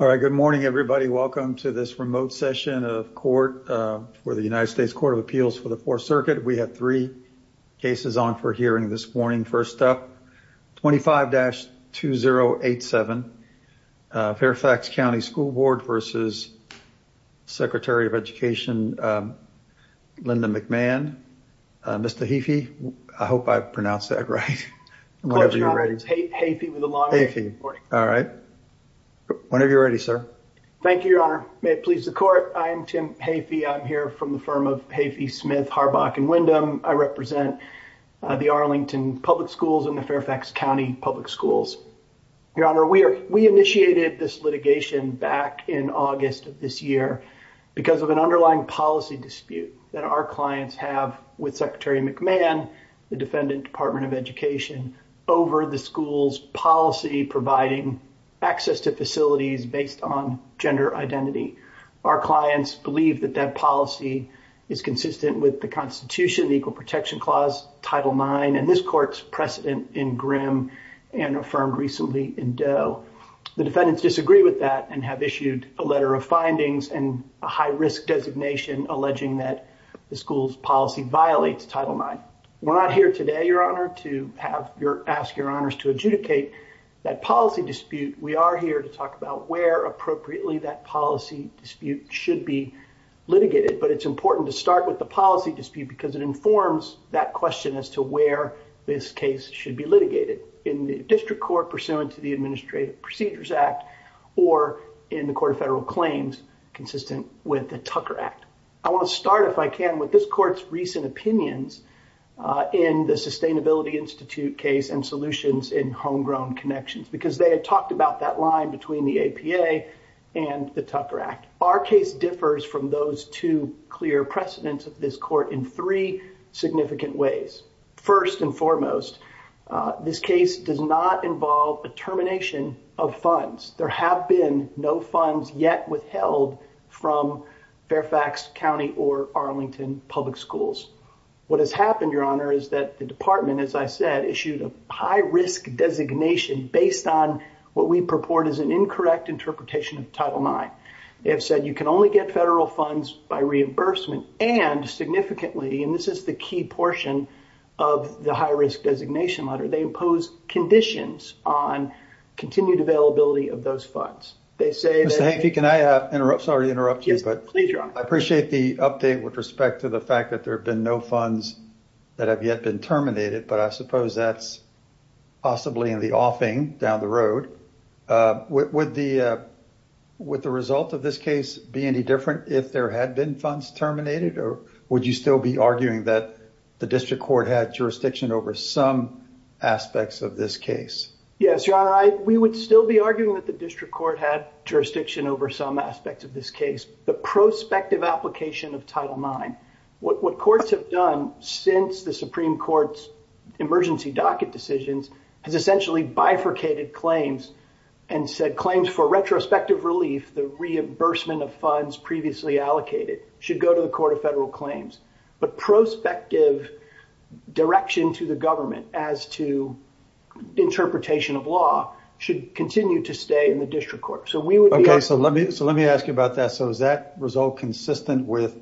All right, good morning, everybody. Welcome to this remote session of court for the United States Court of Appeals for the Fourth Circuit. We have three cases on for hearing this morning. First up, 25-2087, Fairfax County School Board versus Secretary of Education, Linda McMahon. Mr. Heafey, I hope I pronounced that right. Whatever you read. It's Heafey with a long name. Heafey, all right. Whenever you're ready, sir. Thank you, Your Honor. May it please the court. I am Tim Heafey. I'm here from the firm of Heafey, Smith, Harbach, and Windham. I represent the Arlington Public Schools and the Fairfax County Public Schools. Your Honor, we initiated this litigation back in August of this year because of an underlying policy dispute that our clients have with Secretary McMahon, the defendant, Department of Education, over the school's policy providing access to facilities based on gender identity. Our clients believe that that policy is consistent with the Constitution, the Equal Protection Clause, Title IX, and this court's precedent in Grimm and affirmed recently in Doe. The defendants disagree with that and have issued a letter of findings and a high-risk designation alleging that the school's policy violates Title IX. We're not here today, Your Honor, to ask Your Honors to adjudicate that policy dispute. We are here to talk about where, appropriately, that policy dispute should be litigated, but it's important to start with the policy dispute because it informs that question as to where this case should be litigated, in the district court pursuant to the Administrative Procedures Act or in the Court of Federal Claims consistent with the Tucker Act. I want to start, if I can, with this court's recent opinions in the Sustainability Institute case and solutions in homegrown connections because they had talked about that line between the APA and the Tucker Act. Our case differs from those two clear precedents of this court in three significant ways. First and foremost, this case does not involve a termination of funds. There have been no funds yet withheld from Fairfax County or Arlington public schools. What has happened, Your Honor, is that the department, as I said, issued a high-risk designation based on what we purport is an incorrect interpretation of Title IX. They have said you can only get federal funds by reimbursement and significantly, and this is the key portion of the high-risk designation letter, they impose conditions on continued availability of those funds. They say that- Mr. Hanke, can I interrupt? Sorry to interrupt you, but- Yes, please, Your Honor. I appreciate the update with respect to the fact that there have been no funds that have yet been terminated, but I suppose that's possibly in the offing down the road. Would the result of this case be any different if there had been funds terminated, or would you still be arguing that the district court had jurisdiction over some aspects of this case? Yes, Your Honor, we would still be arguing that the district court had jurisdiction over some aspects of this case. The prospective application of Title IX, what courts have done since the Supreme Court's emergency docket decisions has essentially bifurcated claims and said claims for retrospective relief, the reimbursement of funds previously allocated, should go to the Court of Federal Claims. But prospective direction to the government as to interpretation of law should continue to stay in the district court. So we would be- Okay, so let me ask you about that. So is that result consistent with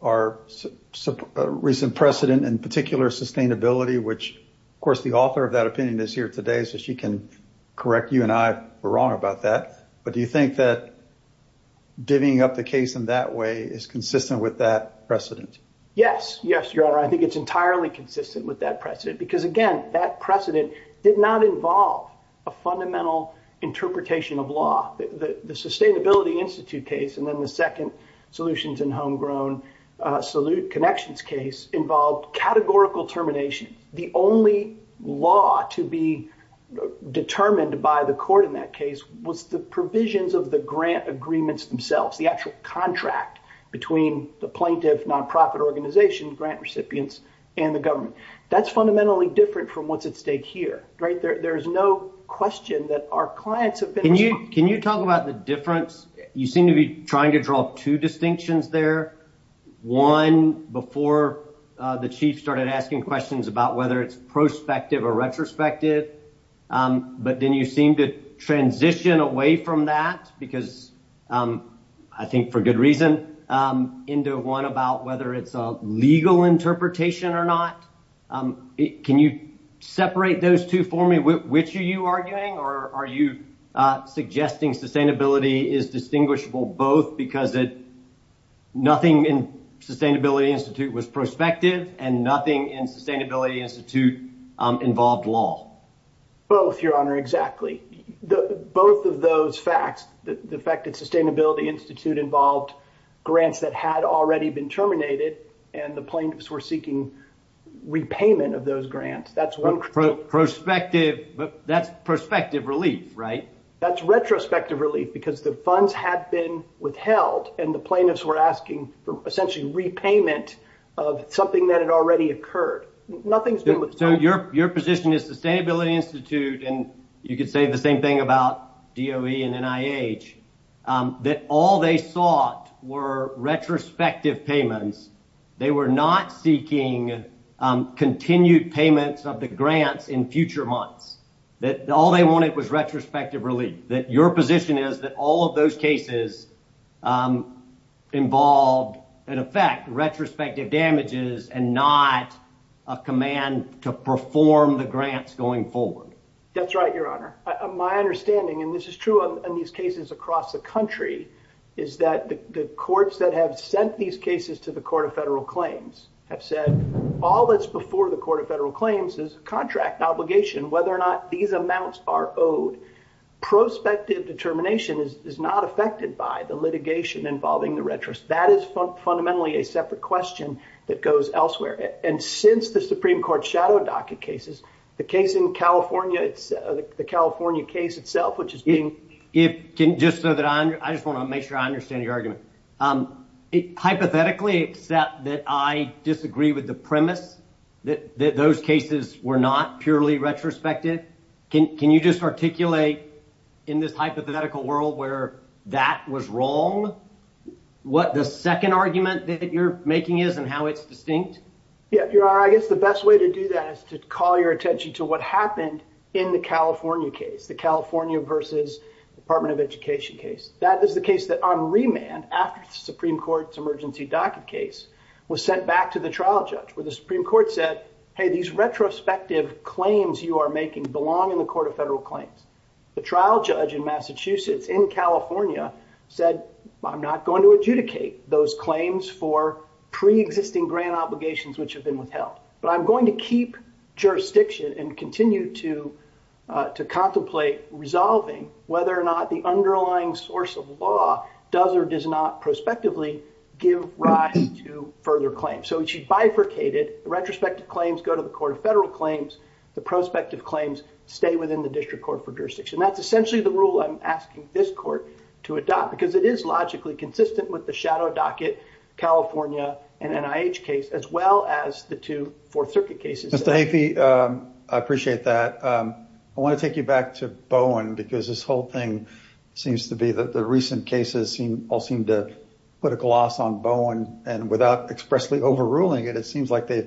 our recent precedent, in particular, sustainability, which, of course, the author of that opinion is here today, so she can correct you and I were wrong about that. But do you think that divvying up the case in that way is consistent with that precedent? Yes, yes, Your Honor. I think it's entirely consistent with that precedent, because again, that precedent did not involve a fundamental interpretation of law. The Sustainability Institute case, and then the second Solutions and Homegrown Salute Connections case involved categorical termination. The only law to be determined by the court in that case was the provisions of the grant agreements themselves, the actual contract between the plaintiff, non-profit organization, grant recipients, and the government. That's fundamentally different from what's at stake here. There's no question that our clients have been- Can you talk about the difference? You seem to be trying to draw two distinctions there. One, before the chief started asking questions about whether it's prospective or retrospective, but then you seem to transition away from that, because I think for good reason, into one about whether it's a legal interpretation or not. Can you separate those two for me? Which are you arguing, or are you suggesting sustainability is distinguishable both because nothing in Sustainability Institute was prospective and nothing in Sustainability Institute involved law? Both, Your Honor, exactly. Both of those facts, the fact that Sustainability Institute involved grants that had already been terminated and the plaintiffs were seeking repayment of those grants, that's one- Prospective, that's prospective relief, right? That's retrospective relief because the funds had been withheld and the plaintiffs were asking for essentially repayment of something that had already occurred. Nothing's been withheld. Your position is Sustainability Institute, and you could say the same thing about DOE and NIH, that all they sought were retrospective payments. They were not seeking continued payments of the grants in future months. That all they wanted was retrospective relief. That your position is that all of those cases involved in effect, retrospective damages and not a command to perform the grants going forward. That's right, Your Honor. My understanding, and this is true in these cases across the country, is that the courts that have sent these cases to the Court of Federal Claims have said, all that's before the Court of Federal Claims is a contract obligation, whether or not these amounts are owed. Prospective determination is not affected by the litigation involving the retros. That is fundamentally a separate question that goes elsewhere. And since the Supreme Court shadow docket cases, the case in California, the California case itself, which is being- Just so that I, I just wanna make sure I understand your argument. Hypothetically, except that I disagree with the premise that those cases were not purely retrospective. Can you just articulate in this hypothetical world where that was wrong? What the second argument that you're making is and how it's distinct? Yeah, Your Honor, I guess the best way to do that is to call your attention to what happened in the California case, the California versus Department of Education case. That is the case that on remand after the Supreme Court's emergency docket case was sent back to the trial judge where the Supreme Court said, hey, these retrospective claims you are making belong in the Court of Federal Claims. The trial judge in Massachusetts in California said, I'm not going to adjudicate those claims for pre-existing grant obligations, which have been withheld, but I'm going to keep jurisdiction and continue to contemplate resolving whether or not the underlying source of law does or does not prospectively give rise to further claims. So it's bifurcated, the retrospective claims go to the Court of Federal Claims, the prospective claims stay within the District Court for jurisdiction. That's essentially the rule I'm asking this court to adopt because it is logically consistent with the shadow docket, California and NIH case, as well as the two Fourth Circuit cases. Mr. Haifey, I appreciate that. I want to take you back to Bowen because this whole thing seems to be, the recent cases all seem to put a gloss on Bowen and without expressly overruling it, it seems like the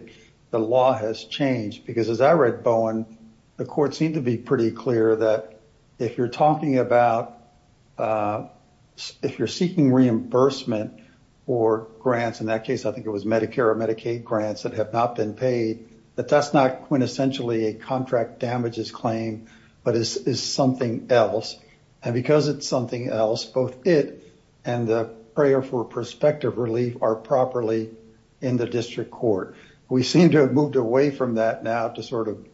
law has changed. Because as I read Bowen, the court seemed to be pretty clear that if you're seeking reimbursement or grants, in that case, I think it was Medicare or Medicaid grants that have not been paid, that that's not quintessentially a contract damages claim, but is something else. And because it's something else, both it and the prayer for prospective relief are properly in the District Court. We seem to have moved away from that now to sort of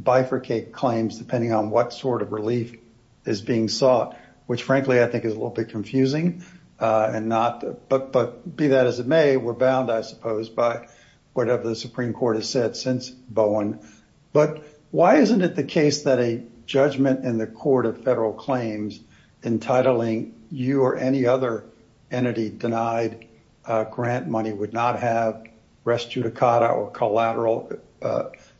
bifurcate claims, depending on what sort of relief is being sought, which frankly, I think is a little bit confusing and not, but be that as it may, we're bound, I suppose, by whatever the Supreme Court has said since Bowen. But why isn't it the case that a judgment in the Court of Federal Claims entitling you or any other entity denied grant money would not have res judicata or collateral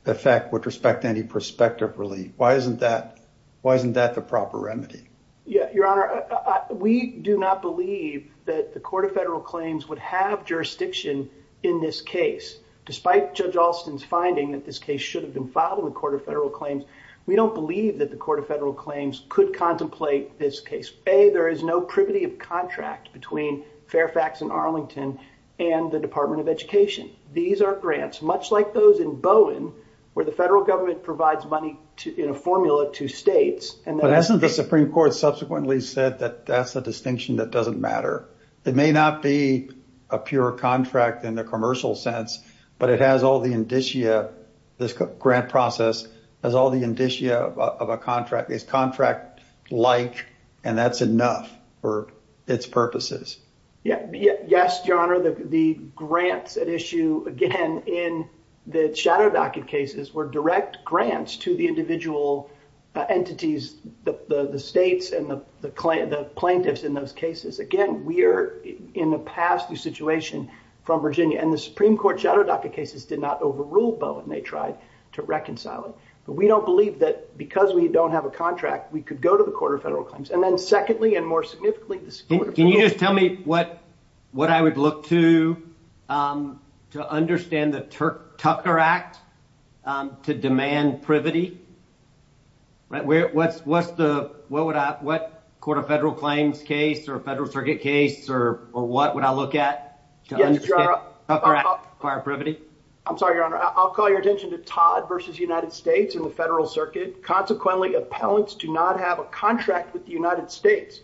effect with respect to any prospective relief? Why isn't that the proper remedy? Yeah, Your Honor, we do not believe that the Court of Federal Claims would have jurisdiction in this case, despite Judge Alston's finding that this case should have been filed in the Court of Federal Claims. We don't believe that the Court of Federal Claims could contemplate this case. A, there is no privity of contract between Fairfax and Arlington and the Department of Education. These are grants, much like those in Bowen, where the federal government provides money in a formula to states. But hasn't the Supreme Court subsequently said that that's a distinction that doesn't matter? It may not be a pure contract in the commercial sense, but it has all the indicia, this grant process has all the indicia of a contract. It's contract-like, and that's enough for its purposes. Yeah, yes, Your Honor, the grants at issue, again, in the shadow docket cases were direct grants to the individual entities, the states and the plaintiffs in those cases. Again, we are, in the past, the situation from Virginia, and the Supreme Court shadow docket cases did not overrule Bowen. They tried to reconcile it. But we don't believe that because we don't have a contract, we could go to the Court of Federal Claims. And then secondly, and more significantly, the Supreme Court of Federal Claims. Can you just tell me what I would look to to understand the Tucker Act to demand privity? Right, what's the, what would I, what Court of Federal Claims case or federal circuit case or what would I look at to understand? Yes, Your Honor. Acquire privity. I'm sorry, Your Honor, I'll call your attention to Todd versus United States in the federal circuit. Consequently, appellants do not have a contract with the United States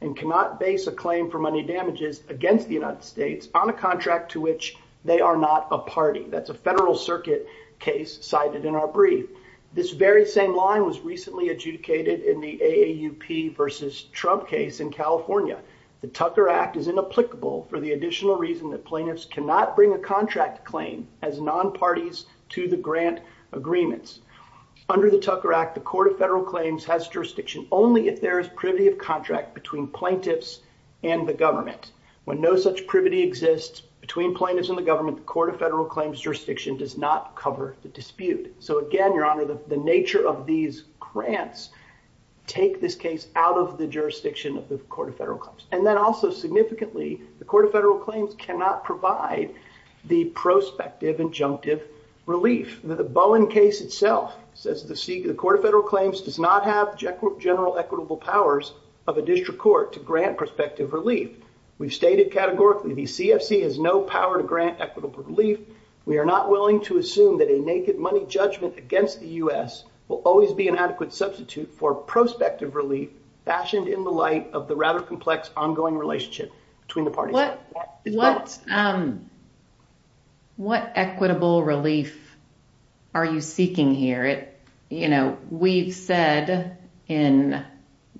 and cannot base a claim for money damages against the United States on a contract to which they are not a party. That's a federal circuit case cited in our brief. This very same line was recently adjudicated in the AAUP versus Trump case in California. The Tucker Act is inapplicable for the additional reason that plaintiffs cannot bring a contract claim as non-parties to the grant agreements. Under the Tucker Act, the Court of Federal Claims has jurisdiction only if there is privity of contract between plaintiffs and the government. When no such privity exists between plaintiffs and the government, the Court of Federal Claims jurisdiction does not cover the dispute. So again, Your Honor, the nature of these grants take this case out of the jurisdiction of the Court of Federal Claims. And then also significantly, the Court of Federal Claims cannot provide the prospective injunctive relief. The Bowen case itself says the Court of Federal Claims does not have general equitable powers of a district court to grant prospective relief. We've stated categorically, the CFC has no power to grant equitable relief. We are not willing to assume that a naked money judgment against the U.S. will always be an adequate substitute for prospective relief fashioned in the light of the rather complex ongoing relationship between the parties. What equitable relief are you seeking here? You know, we've said in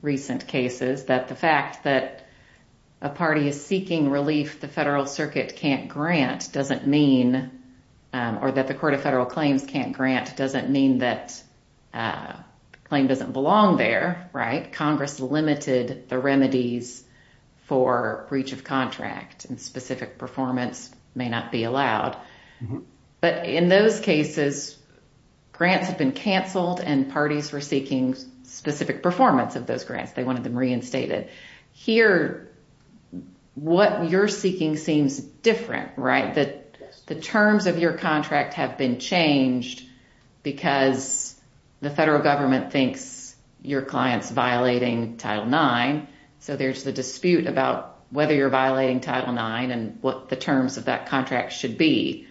recent cases that the fact that a party is seeking relief the Federal Circuit can't grant doesn't mean, or that the Court of Federal Claims can't grant doesn't mean that the claim doesn't belong there, right? Congress limited the remedies for breach of contract and specific performance may not be allowed. But in those cases, grants have been canceled and parties were seeking specific performance of those grants. They wanted them reinstated. Here, what you're seeking seems different, right? The terms of your contract have been changed because the federal government thinks your client's violating Title IX. So there's the dispute about whether you're violating Title IX and what the terms of that contract should be.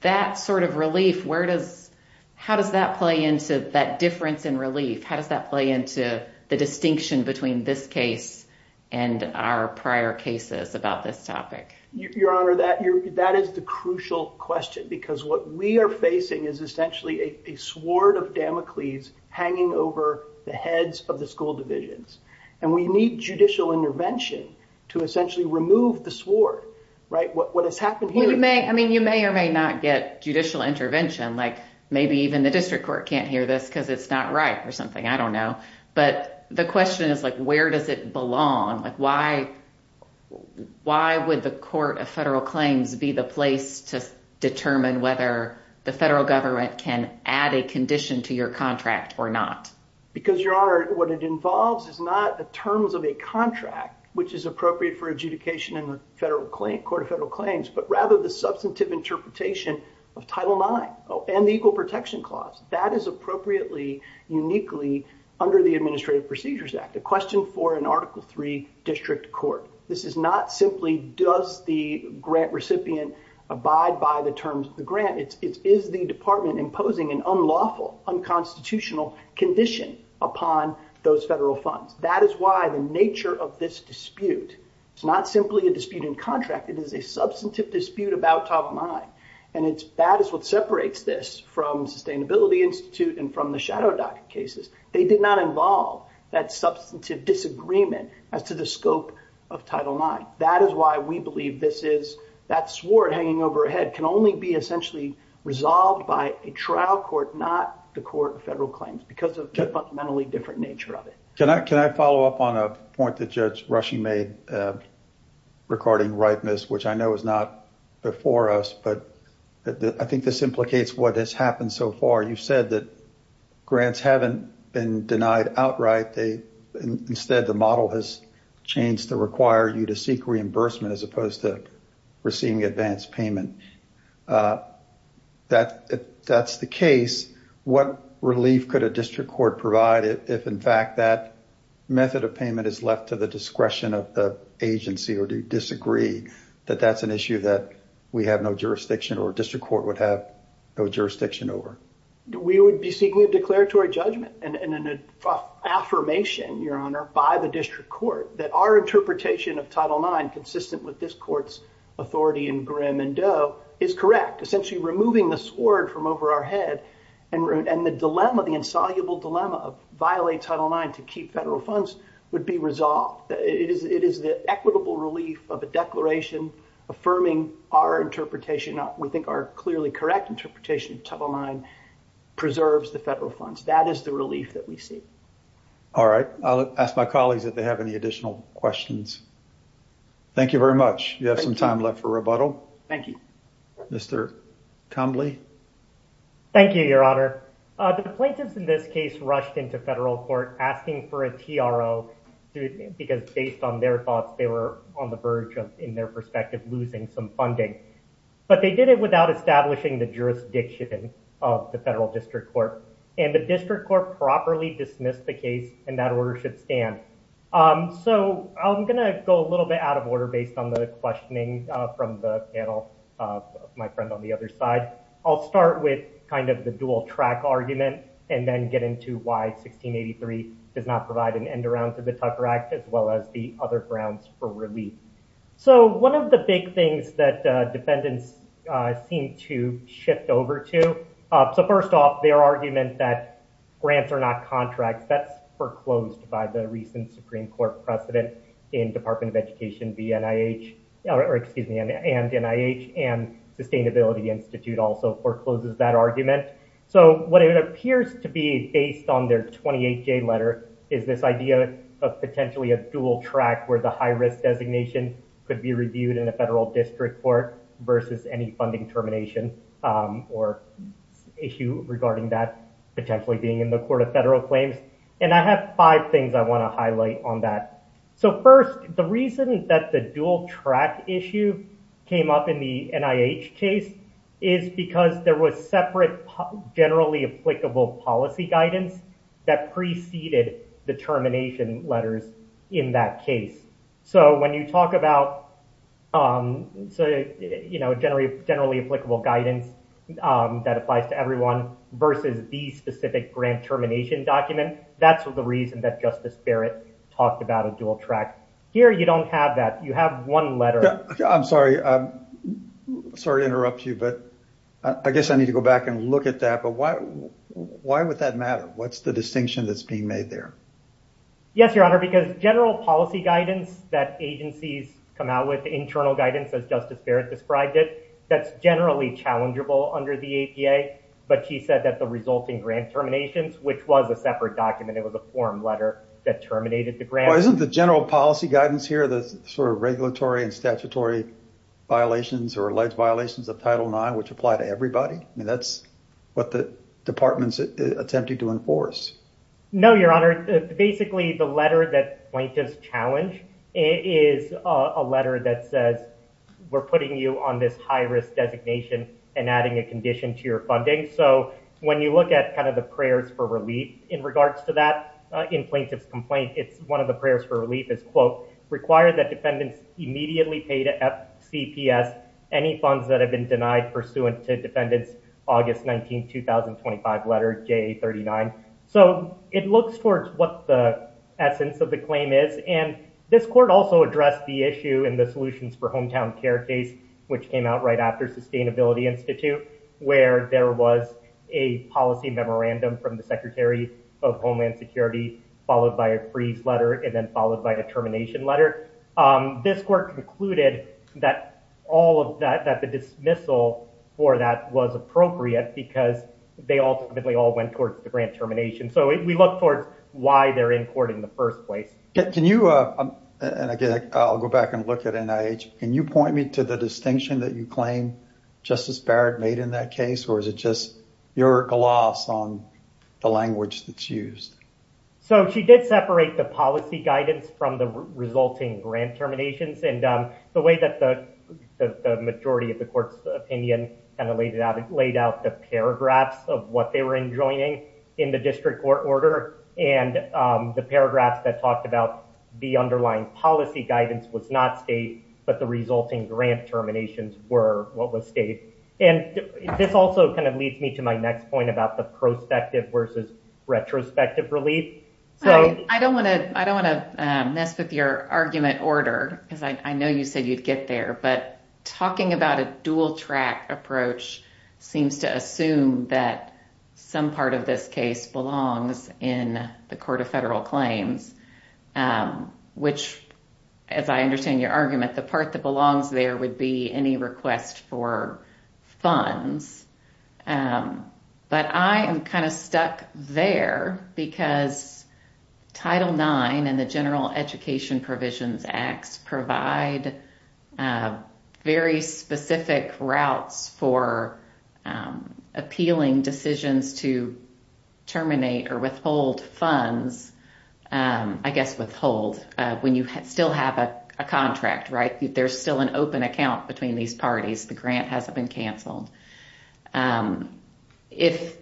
That sort of relief, where does, how does that play into that difference in relief? How does that play into the distinction between this case and our prior cases about this topic? Your Honor, that is the crucial question because what we are facing is essentially a sword of Damocles hanging over the heads of the school divisions. And we need judicial intervention to essentially remove the sword, right? What has happened here- I mean, you may or may not get judicial intervention. Like maybe even the district court can't hear this because it's not right or something, I don't know. But the question is like, where does it belong? Like why would the Court of Federal Claims be the place to determine whether the federal government can add a condition to your contract or not? Because Your Honor, what it involves is not the terms of a contract, which is appropriate for adjudication in the Court of Federal Claims, but rather the substantive interpretation of Title IX and the Equal Protection Clause. That is appropriately, uniquely under the Administrative Procedures Act. A question for an Article III district court. This is not simply does the grant recipient abide by the terms of the grant. It is the department imposing an unlawful, unconstitutional condition upon those federal funds. That is why the nature of this dispute, it's not simply a dispute in contract, it is a substantive dispute about Title IX. And that is what separates this from Sustainability Institute and from the shadow docket cases. They did not involve that substantive disagreement as to the scope of Title IX. That is why we believe this is, that sword hanging overhead can only be essentially resolved by a trial court, not the Court of Federal Claims because of the fundamentally different nature of it. Can I follow up on a point that Judge Rushing made regarding ripeness, which I know is not before us, but I think this implicates what has happened so far. You've said that grants haven't been denied outright. Instead, the model has changed to require you to seek reimbursement as opposed to receiving advanced payment. That's the case. What relief could a district court provide if in fact that method of payment is left to the discretion of the agency or do you disagree that that's an issue that we have no jurisdiction or district court would have no jurisdiction over? We would be seeking a declaratory judgment and an affirmation, Your Honor, by the district court that our interpretation of Title IX, consistent with this court's authority in Grimm and Doe, is correct. Essentially removing the sword from over our head and the dilemma, the insoluble dilemma of violate Title IX to keep federal funds would be resolved. It is the equitable relief of a declaration affirming our interpretation. We think our clearly correct interpretation of Title IX preserves the federal funds. That is the relief that we see. All right, I'll ask my colleagues if they have any additional questions. Thank you very much. You have some time left for rebuttal. Thank you. Mr. Combley. Thank you, Your Honor. The plaintiffs in this case rushed into federal court asking for a TRO because based on their thoughts, they were on the verge of, in their perspective, losing some funding. But they did it without establishing the jurisdiction of the federal district court. And the district court properly dismissed the case and that order should stand. So I'm gonna go a little bit out of order based on the questioning from the panel, my friend on the other side. I'll start with kind of the dual track argument and then get into why 1683 does not provide an end around to the Tucker Act as well as the other grounds for relief. So one of the big things that defendants seem to shift over to, so first off, their argument that grants are not contracts, that's foreclosed by the recent Supreme Court precedent in Department of Education and NIH and Sustainability Institute also forecloses that argument. So what it appears to be based on their 28-J letter is this idea of potentially a dual track where the high-risk designation could be reviewed in a federal district court versus any funding termination or issue regarding that potentially being in the court of federal claims. And I have five things I wanna highlight on that. So first, the reason that the dual track issue came up in the NIH case is because there was separate generally applicable policy guidance that preceded the termination letters in that case. So when you talk about generally applicable guidance that applies to everyone versus the specific grant termination document, that's the reason that Justice Barrett talked about a dual track. Here, you don't have that. You have one letter. I'm sorry to interrupt you, but I guess I need to go back and look at that. But why would that matter? What's the distinction that's being made there? Yes, Your Honor, because general policy guidance that agencies come out with, internal guidance as Justice Barrett described it, that's generally challengeable under the APA, but she said that the resulting grant terminations, which was a separate document, it was a form letter that terminated the grant. Well, isn't the general policy guidance here the sort of regulatory and statutory violations or alleged violations of Title IX, which apply to everybody? I mean, that's what the department's attempting to enforce. No, Your Honor, basically the letter that plaintiffs challenge is a letter that says, we're putting you on this high risk designation and adding a condition to your funding. So when you look at kind of the prayers for relief in regards to that, in plaintiff's complaint, it's one of the prayers for relief is, require that defendants immediately pay to FCPS any funds that have been denied pursuant to defendant's August 19th, 2025 letter, JA39. So it looks towards what the essence of the claim is. And this court also addressed the issue in the solutions for hometown care case, which came out right after Sustainability Institute, where there was a policy memorandum from the Secretary of Homeland Security, followed by a freeze letter, and then followed by a termination letter. This court concluded that all of that, that the dismissal for that was appropriate because they ultimately all went towards the grant termination. So we look towards why they're in court in the first place. Can you, and again, I'll go back and look at NIH. Can you point me to the distinction that you claim Justice Barrett made in that case? Or is it just your gloss on the language that's used? So she did separate the policy guidance from the resulting grant terminations. And the way that the majority of the court's opinion kind of laid out the paragraphs of what they were enjoying in the district court order and the paragraphs that talked about the underlying policy guidance was not state, but the resulting grant terminations were what was state. And this also kind of leads me to my next point about the prospective versus retrospective relief. I don't want to mess with your argument order because I know you said you'd get there, but talking about a dual track approach seems to assume that some part of this case belongs in the Court of Federal Claims, which as I understand your argument, the part that belongs there would be any request for funds. But I am kind of stuck there because Title IX and the General Education Provisions Acts provide very specific routes for appealing decisions to terminate or withhold funds. I guess withhold when you still have a contract, right? There's still an open account between these parties. The grant hasn't been canceled. If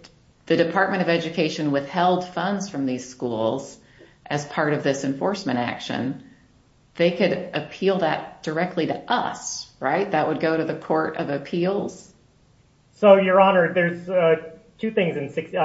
the Department of Education withheld funds from these schools as part of this enforcement action, they could appeal that directly to us, right? That would go to the Court of Appeals. So, Your Honor, there's two things if Your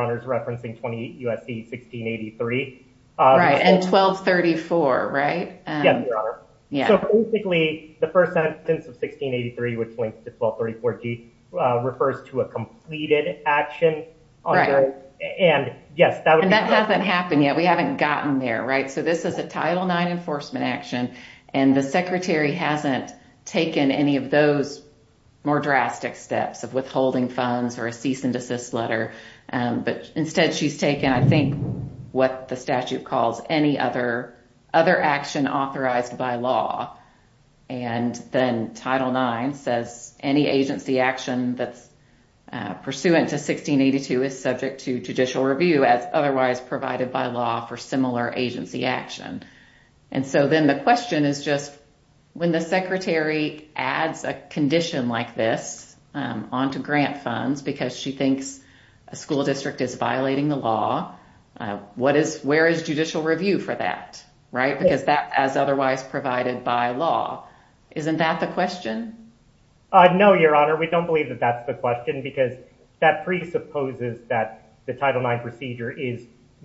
Honor is referencing 20 U.S.C. 1683. Right, and 1234, right? Yes, Your Honor. Yeah. So basically, the first sentence of 1683, which links to 1234G, refers to a completed action. And yes, that would be- And that hasn't happened yet. We haven't gotten there, right? So this is a Title IX enforcement action and the Secretary hasn't taken any of those more drastic steps of withholding funds or a cease and desist letter, but instead she's taken, I think, what the statute calls any other action authorized by law. And then Title IX says any agency action that's pursuant to 1682 is subject to judicial review as otherwise provided by law for similar agency action. And so then the question is just when the Secretary adds a condition like this onto grant funds because she thinks a school district is violating the law, where is judicial review for that, right? Because that as otherwise provided by law. Isn't that the question? No, Your Honor, we don't believe that that's the question because that presupposes that the Title IX procedure is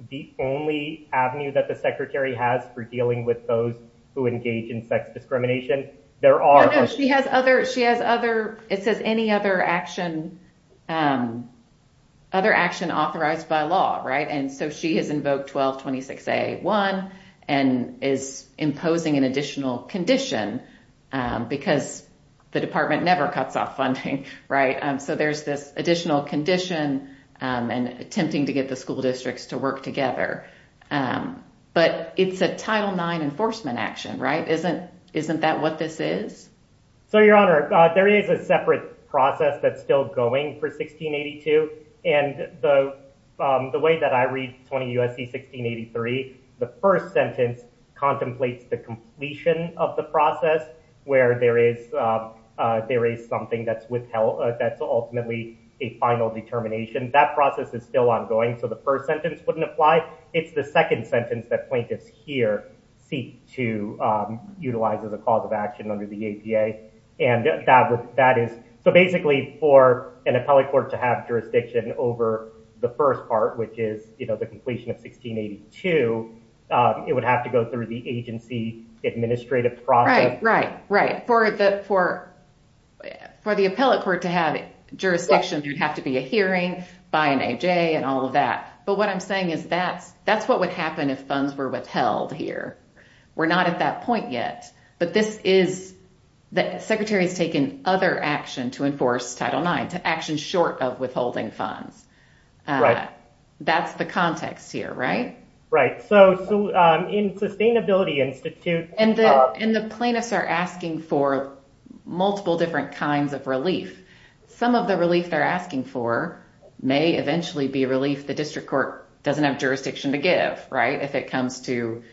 the only avenue that the Secretary has for dealing with those who engage in sex discrimination. There are- No, no, she has other... It says any other action authorized by law, right? And so she has invoked 1226A1 and is imposing an additional condition because the department never cuts off funding, right? So there's this additional condition and attempting to get the school districts to work together. But it's a Title IX enforcement action, right? Isn't that what this is? So, Your Honor, there is a separate process that's still going for 1682. And the way that I read 20 U.S.C. 1683, the first sentence contemplates the completion of the process where there is something that's ultimately a final determination. That process is still ongoing. So the first sentence wouldn't apply. It's the second sentence that plaintiffs here seek to utilize as a cause of action under the APA. And that is, so basically for an appellate court to have jurisdiction over the first part, which is the completion of 1682, it would have to go through the agency administrative process. Right, right, right. For the appellate court to have jurisdiction, there'd have to be a hearing by an A.J. and all of that. But what I'm saying is that's what would happen if funds were withheld here. We're not at that point yet, but this is, the secretary has taken other action to enforce Title IX, to action short of withholding funds. That's the context here, right? Right, so in Sustainability Institute- And the plaintiffs are asking for multiple different kinds of relief. Some of the relief they're asking for may eventually be relief the district court doesn't have jurisdiction to give, right? If it comes to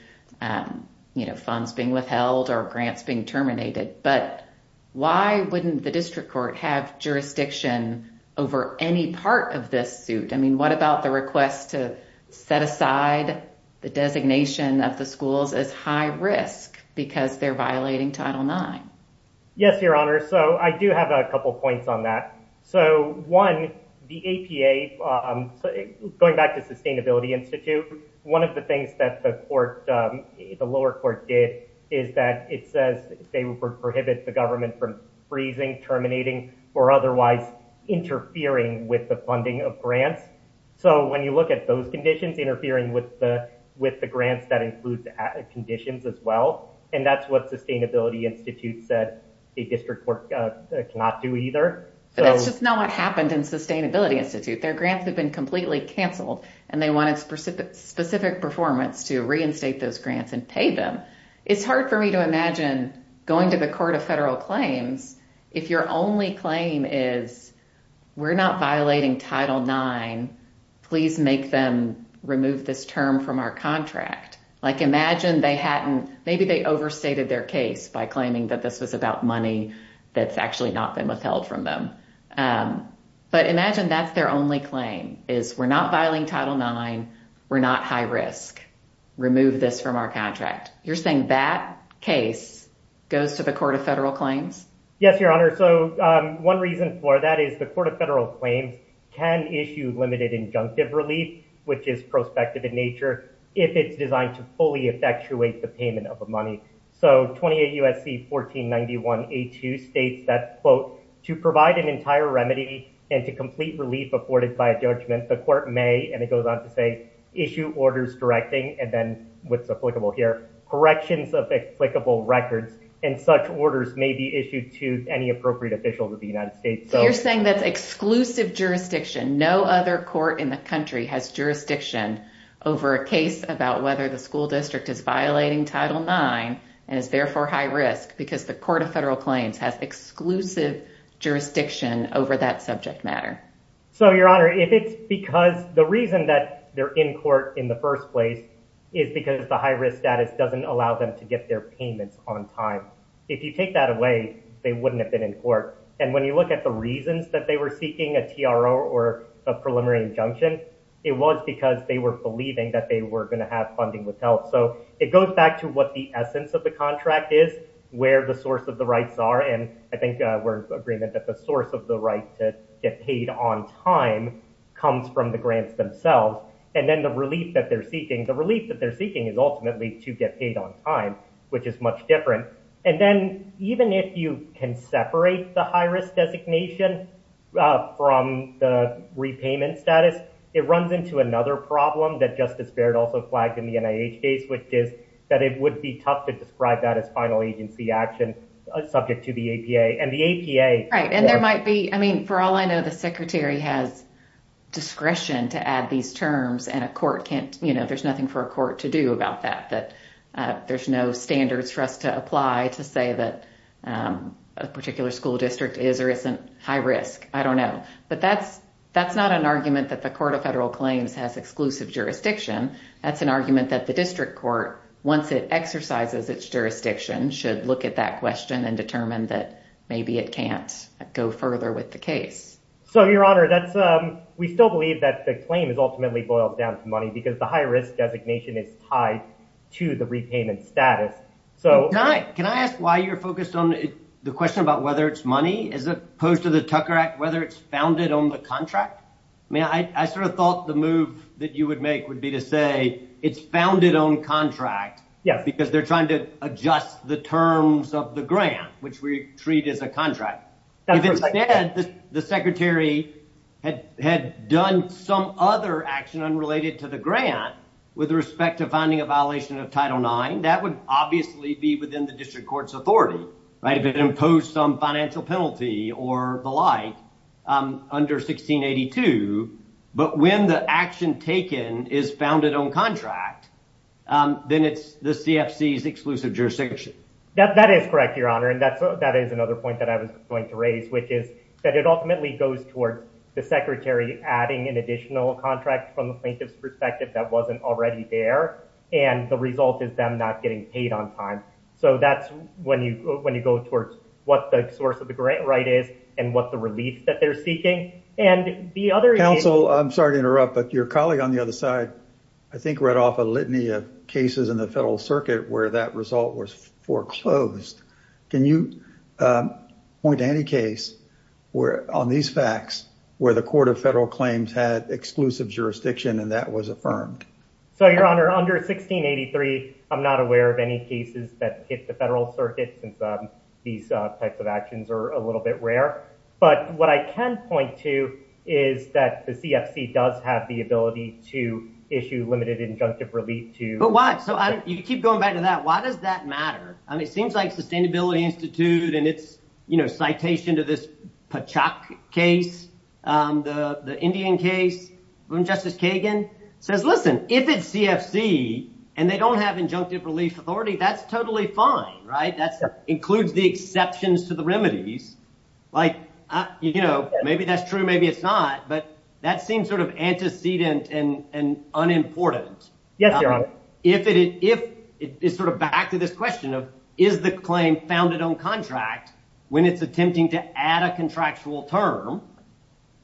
funds being withheld or grants being terminated. But why wouldn't the district court have jurisdiction over any part of this suit? I mean, what about the request to set aside the designation of the schools as high risk because they're violating Title IX? Yes, your honor. So I do have a couple of points on that. So one, the APA, going back to Sustainability Institute, one of the things that the lower court did is that it says they would prohibit the government from freezing, terminating, or otherwise interfering with the funding of grants. So when you look at those conditions, it's interfering with the grants that include the conditions as well. And that's what Sustainability Institute said the district court cannot do either. But that's just not what happened in Sustainability Institute. Their grants have been completely canceled and they wanted specific performance to reinstate those grants and pay them. It's hard for me to imagine going to the court of federal claims if your only claim is we're not violating Title IX, please make them remove this term from our contract. Like imagine they hadn't, maybe they overstated their case by claiming that this was about money that's actually not been withheld from them. But imagine that's their only claim is we're not violating Title IX, we're not high risk, remove this from our contract. You're saying that case goes to the court of federal claims? Yes, your honor. So one reason for that is the court of federal claims can issue limited injunctive relief, which is prospective in nature, if it's designed to fully effectuate the payment of the money. So 28 U.S.C. 1491A2 states that quote, to provide an entire remedy and to complete relief afforded by a judgment, the court may, and it goes on to say, issue orders directing and then what's applicable here, corrections of applicable records and such orders may be issued to any appropriate officials of the United States. So you're saying that's exclusive jurisdiction, no other court in the country has jurisdiction over a case about whether the school district is violating Title IX and is therefore high risk because the court of federal claims has exclusive jurisdiction over that subject matter. So your honor, if it's because, the reason that they're in court in the first place is because the high risk status doesn't allow them to get their payments on time. If you take that away, they wouldn't have been in court. And when you look at the reasons that they were seeking a TRO or a preliminary injunction, it was because they were believing that they were gonna have funding with health. So it goes back to what the essence of the contract is, where the source of the rights are. And I think we're in agreement that the source of the right to get paid on time comes from the grants themselves. And then the relief that they're seeking, the relief that they're seeking is ultimately to get paid on time, which is much different. And then even if you can separate the high risk designation from the repayment status, it runs into another problem that Justice Barrett also flagged in the NIH case, which is that it would be tough to describe that as final agency action subject to the APA. And the APA- Right, and there might be, I mean, for all I know, the secretary has discretion to add these terms and a court can't, there's nothing for a court to do about that, that there's no standards for us to apply to say that a particular school district is or isn't high risk, I don't know. But that's not an argument that the Court of Federal Claims has exclusive jurisdiction. That's an argument that the district court, once it exercises its jurisdiction, should look at that question and determine that maybe it can't go further with the case. So, Your Honor, we still believe that the claim is ultimately boiled down to money because the high risk designation is tied to the repayment status. So- Can I ask why you're focused on the question about whether it's money, as opposed to the Tucker Act, whether it's founded on the contract? I mean, I sort of thought the move that you would make would be to say it's founded on contract because they're trying to adjust the terms of the grant, which we treat as a contract. If instead, the secretary had done some other action unrelated to the grant with respect to finding a violation of Title IX, that would obviously be within the district court's authority, right? If it imposed some financial penalty or the like under 1682, but when the action taken is founded on contract, then it's the CFC's exclusive jurisdiction. That is correct, Your Honor. And that is another point that I was going to raise, which is that it ultimately goes toward the secretary adding an additional contract from the plaintiff's perspective that wasn't already there. And the result is them not getting paid on time. So that's when you go towards what the source of the grant right is and what the relief that they're seeking. And the other- Counsel, I'm sorry to interrupt, but your colleague on the other side, I think read off a litany of cases in the federal circuit where that result was foreclosed. Can you point to any case where on these facts, where the court of federal claims had exclusive jurisdiction and that was affirmed? So Your Honor, under 1683, I'm not aware of any cases that hit the federal circuit since these types of actions are a little bit rare. But what I can point to is that the CFC does have the ability to issue limited injunctive relief to- But why? So you keep going back to that. Why does that matter? I mean, it seems like Sustainability Institute and it's citation to this Pachak case, the Indian case, when Justice Kagan says, listen, if it's CFC and they don't have injunctive relief authority, that's totally fine, right? That's includes the exceptions to the remedies. Like, you know, maybe that's true, maybe it's not, but that seems sort of antecedent and unimportant. Yes, Your Honor. If it is sort of back to this question of, is the claim founded on contract when it's attempting to add a contractual term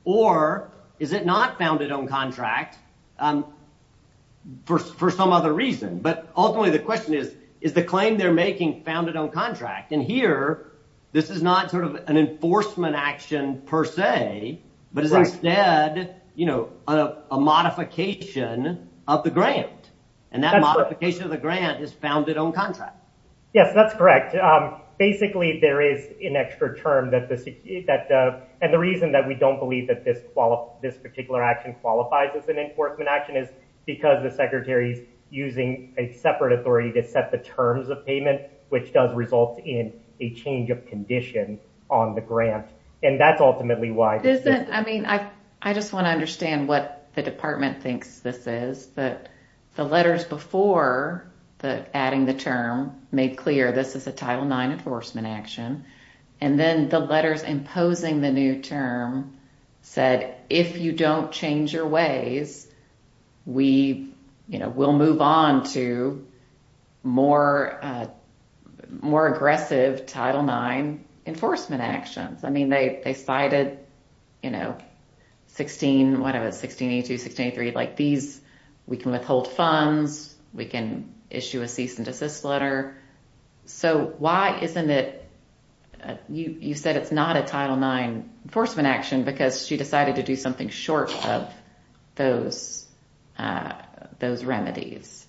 or is it not founded on contract for some other reason? But ultimately the question is, is the claim they're making founded on contract? And here, this is not sort of an enforcement action per se, but is instead, you know, a modification of the grant. And that modification of the grant is founded on contract. Yes, that's correct. Basically, there is an extra term that the, and the reason that we don't believe that this particular action qualifies as an enforcement action is because the secretary's using a separate authority to set the terms of payment, which does result in a change of condition on the grant. And that's ultimately why- I mean, I just want to understand what the department thinks this is, but the letters before adding the term made clear, this is a Title IX enforcement action. And then the letters imposing the new term said, if you don't change your ways, we, you know, we'll move on to more aggressive Title IX enforcement actions. I mean, they cited, you know, 16, what was it? 1682, 1683, like these, we can withhold funds, we can issue a cease and desist letter. So why isn't it, you said it's not a Title IX enforcement action because she decided to do something short of those remedies.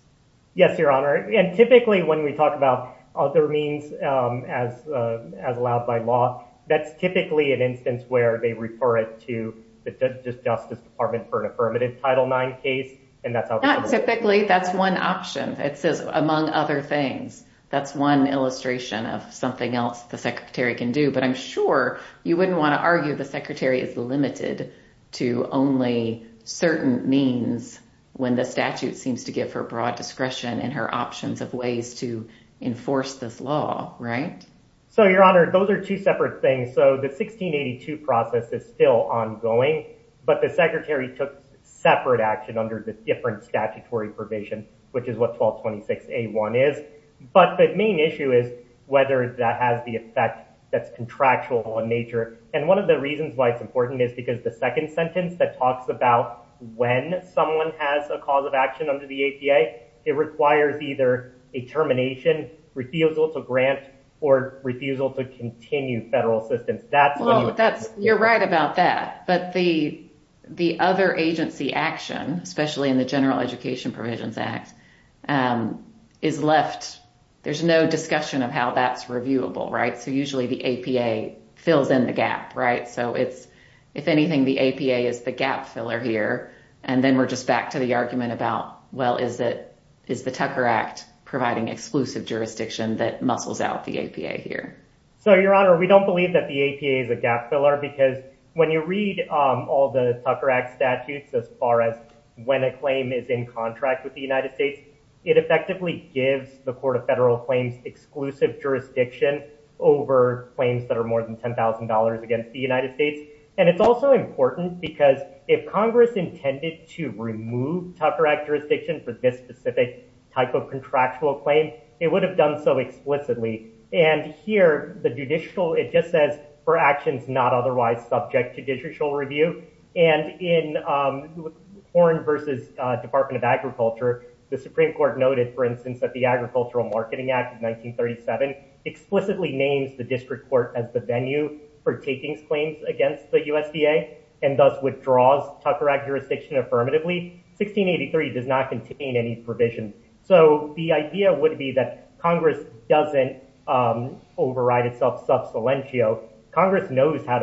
Yes, Your Honor. And typically when we talk about other means as allowed by law, that's typically an instance where they refer it to the Justice Department for an affirmative Title IX case. And that's how- Well, typically that's one option. It says among other things, that's one illustration of something else the secretary can do, but I'm sure you wouldn't want to argue the secretary is limited to only certain means when the statute seems to give her broad discretion and her options of ways to enforce this law, right? So Your Honor, those are two separate things. So the 1682 process is still ongoing, but the secretary took separate action under the different statutory provision, which is what 1226A1 is. But the main issue is whether that has the effect that's contractual in nature. And one of the reasons why it's important is because the second sentence that talks about when someone has a cause of action under the ACA, it requires either a termination, refusal to grant or refusal to continue federal assistance. That's- You're right about that. But the other agency action, especially in the General Education Provisions Act, is left, there's no discussion of how that's reviewable, right? So usually the APA fills in the gap, right? So it's, if anything, the APA is the gap filler here. And then we're just back to the argument about, well, is the Tucker Act providing exclusive jurisdiction that muscles out the APA here? So Your Honor, we don't believe that the APA is a gap filler because when you read all the Tucker Act statutes, as far as when a claim is in contract with the United States it effectively gives the Court of Federal Claims exclusive jurisdiction over claims that are more than $10,000 against the United States. And it's also important because if Congress intended to remove Tucker Act jurisdiction for this specific type of contractual claim, it would have done so explicitly. And here, the judicial, it just says, for actions not otherwise subject to judicial review. And in Foreign versus Department of Agriculture, the Supreme Court noted, for instance, that the Agricultural Marketing Act of 1937 explicitly names the district court as the venue for taking claims against the USDA and thus withdraws Tucker Act jurisdiction affirmatively. 1683 does not contain any provision. So the idea would be that Congress doesn't override itself sub silentio. Congress knows how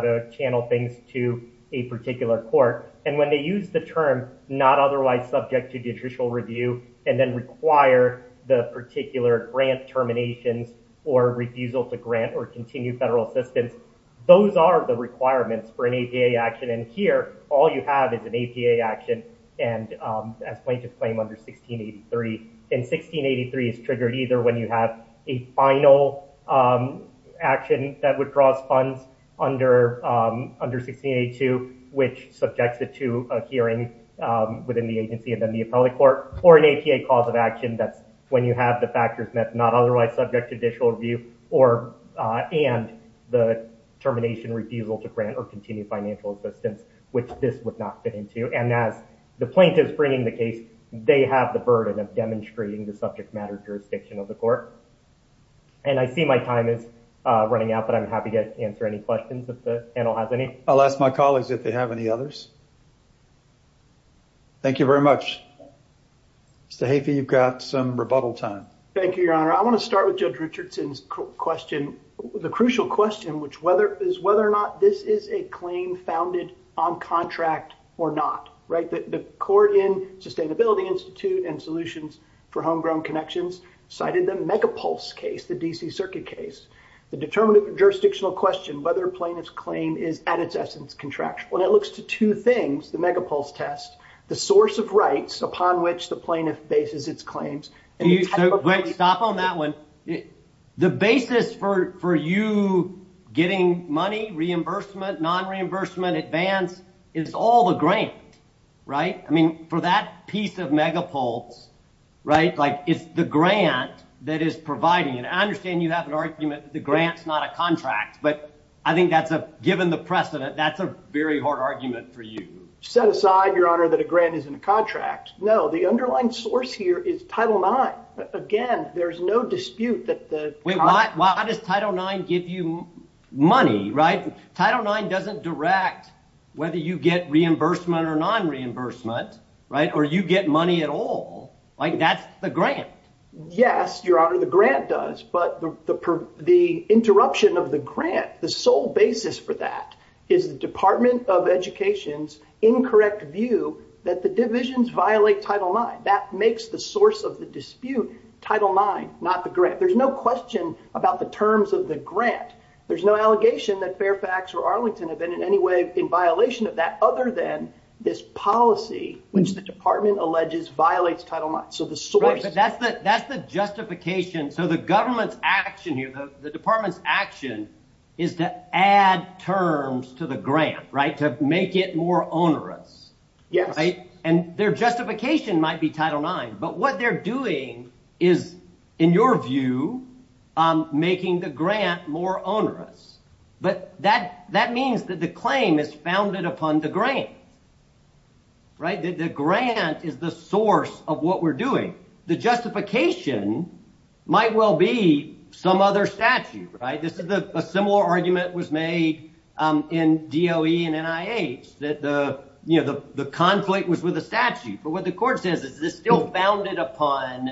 to channel things to a particular court. And when they use the term, not otherwise subject to judicial review, and then require the particular grant terminations or refusal to grant or continue federal assistance, those are the requirements for an APA action. And here, all you have is an APA action. And as plaintiffs claim under 1683, in 1683 is triggered either when you have a final action that withdraws funds under 1682, which subjects it to a hearing within the agency and then the appellate court, or an APA cause of action that's when you have the factors that's not otherwise subject to judicial review or, and the termination, refusal to grant or continue financial assistance, which this would not fit into. And as the plaintiff's bringing the case, they have the burden of demonstrating the subject matter jurisdiction of the court. And I see my time is running out, but I'm happy to answer any questions if the panel has any. I'll ask my colleagues if they have any others. Thank you very much. Mr. Haifey, you've got some rebuttal time. Thank you, Your Honor. I wanna start with Judge Richardson's question. The crucial question, which is whether or not this is a claim founded on contract or not, right? The court in Sustainability Institute and Solutions for Homegrown Connections cited the Megapulse case, the DC Circuit case. The determinative jurisdictional question, whether plaintiff's claim is at its essence contractual. And it looks to two things, the Megapulse test, the source of rights upon which the plaintiff bases its claims. And the type of- Wait, stop on that one. The basis for you getting money, reimbursement, non-reimbursement, advance, is all the grant, right? I mean, for that piece of Megapulse, right? Like it's the grant that is providing. And I understand you have an argument that the grant's not a contract, but I think that's a, given the precedent, that's a very hard argument for you. Set aside, Your Honor, that a grant isn't a contract. No, the underlying source here is Title IX. Again, there's no dispute that the- Wait, why does Title IX give you money, right? Title IX doesn't direct whether you get reimbursement or non-reimbursement, right? Or you get money at all. Like that's the grant. Yes, Your Honor, the grant does. But the interruption of the grant, the sole basis for that is the Department of Education's incorrect view that the divisions violate Title IX. That makes the source of the dispute Title IX, not the grant. There's no question about the terms of the grant. There's no allegation that Fairfax or Arlington have been in any way in violation of that other than this policy, which the department alleges violates Title IX. So the source- But that's the justification. So the government's action here, the department's action is to add terms to the grant, right? To make it more onerous. Yes. And their justification might be Title IX, but what they're doing is, in your view, making the grant more onerous. But that means that the claim is founded upon the grant, right? The grant is the source of what we're doing. The justification might well be some other statute, right? This is a similar argument was made in DOE and NIH that the conflict was with a statute. But what the court says is this still founded upon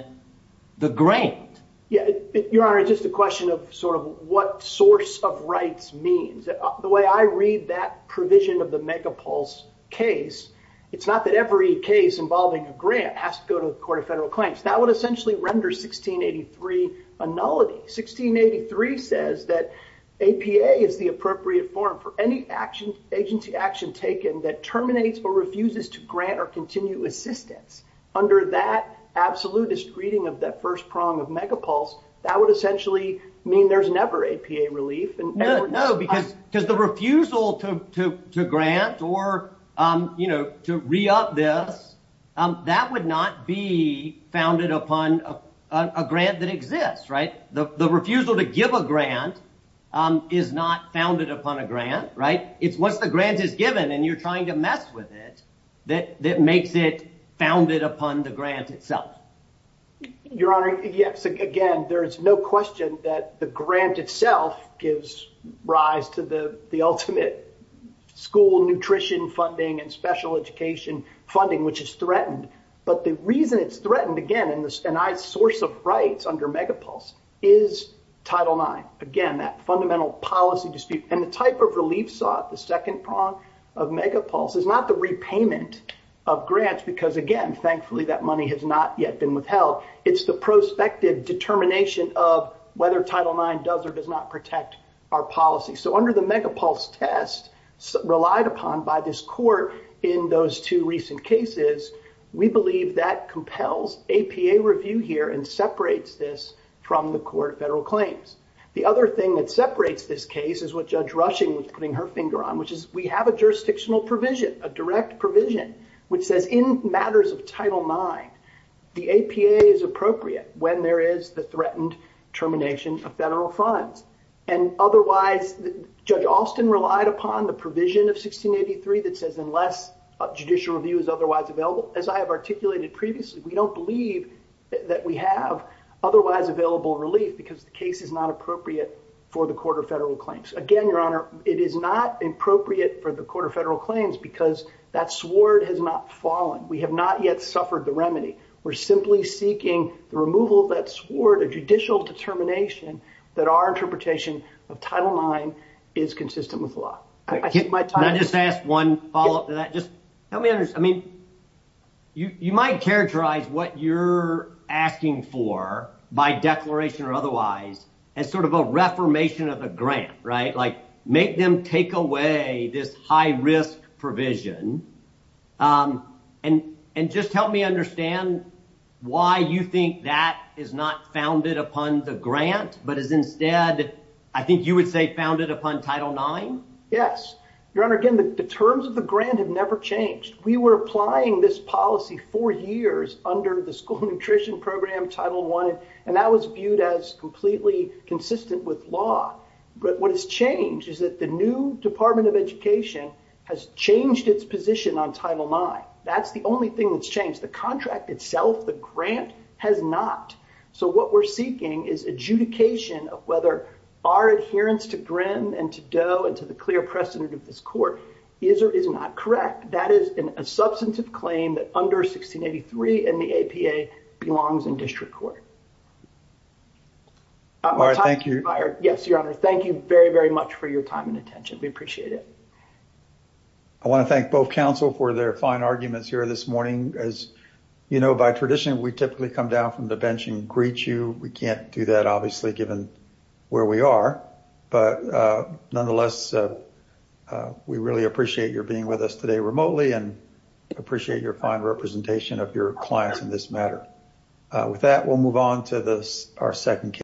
the grant. Yeah. Your Honor, just a question of sort of what source of rights means. The way I read that provision of the Megapulse case, it's not that every case involving a grant has to go to the Court of Federal Claims. That would essentially render 1683 a nullity. 1683 says that APA is the appropriate form for any agency action taken that terminates or refuses to grant or continue assistance. Under that absolutist reading of that first prong of Megapulse, that would essentially mean there's never APA relief. No, because the refusal to grant or to re-up this, that would not be founded upon a grant that exists, right? The refusal to give a grant is not founded upon a grant, right? It's once the grant is given and you're trying to mess with it, that makes it founded upon the grant itself. Your Honor, yes. Again, there is no question that the grant itself gives rise to the ultimate school nutrition funding and special education funding, which is threatened. But the reason it's threatened, again, and NIH's source of rights under Megapulse is Title IX. Again, that fundamental policy dispute and the type of relief sought, the second prong of Megapulse is not the repayment of grants because again, thankfully that money has not yet been withheld. It's the prospective determination of whether Title IX does or does not protect our policy. So under the Megapulse test relied upon by this court in those two recent cases, we believe that compels APA review here and separates this from the court federal claims. The other thing that separates this case is what Judge Rushing was putting her finger on, which is we have a jurisdictional provision, a direct provision, which says in matters of Title IX, the APA is appropriate when there is the threatened termination of federal funds. And otherwise, Judge Alston relied upon the provision of 1683 that says unless judicial review is otherwise available, as I have articulated previously, we don't believe that we have otherwise available relief because the case is not appropriate for the court of federal claims. Again, Your Honor, it is not appropriate for the court of federal claims because that sword has not fallen. We have not yet suffered the remedy. We're simply seeking the removal of that sword, a judicial determination that our interpretation of Title IX is consistent with law. I take my time. Can I just ask one follow up to that? Just help me understand. I mean, you might characterize what you're asking for by declaration or otherwise as sort of a reformation of the grant, right? Like make them take away this high risk provision and just help me understand why you think that is not founded upon the grant, but is instead, I think you would say founded upon Title IX. Yes. Your Honor, again, the terms of the grant have never changed. We were applying this policy for years under the School Nutrition Program, Title I, and that was viewed as completely consistent with law. But what has changed is that the new Department of Education has changed its position on Title IX. That's the only thing that's changed. The contract itself, the grant has not. So what we're seeking is adjudication of whether our adherence to Grimm and to Doe and to the clear precedent of this court is or is not correct. That is a substantive claim that under 1683 and the APA belongs in district court. My time is expired. Yes, Your Honor. Thank you very, very much for your time and attention. We appreciate it. I wanna thank both counsel for their fine arguments here this morning. As you know, by tradition, we typically come down from the bench and greet you. We can't do that, obviously, given where we are, but nonetheless, we really appreciate your being with us today remotely and appreciate your fine representation of your clients in this matter. With that, we'll move on to our second case.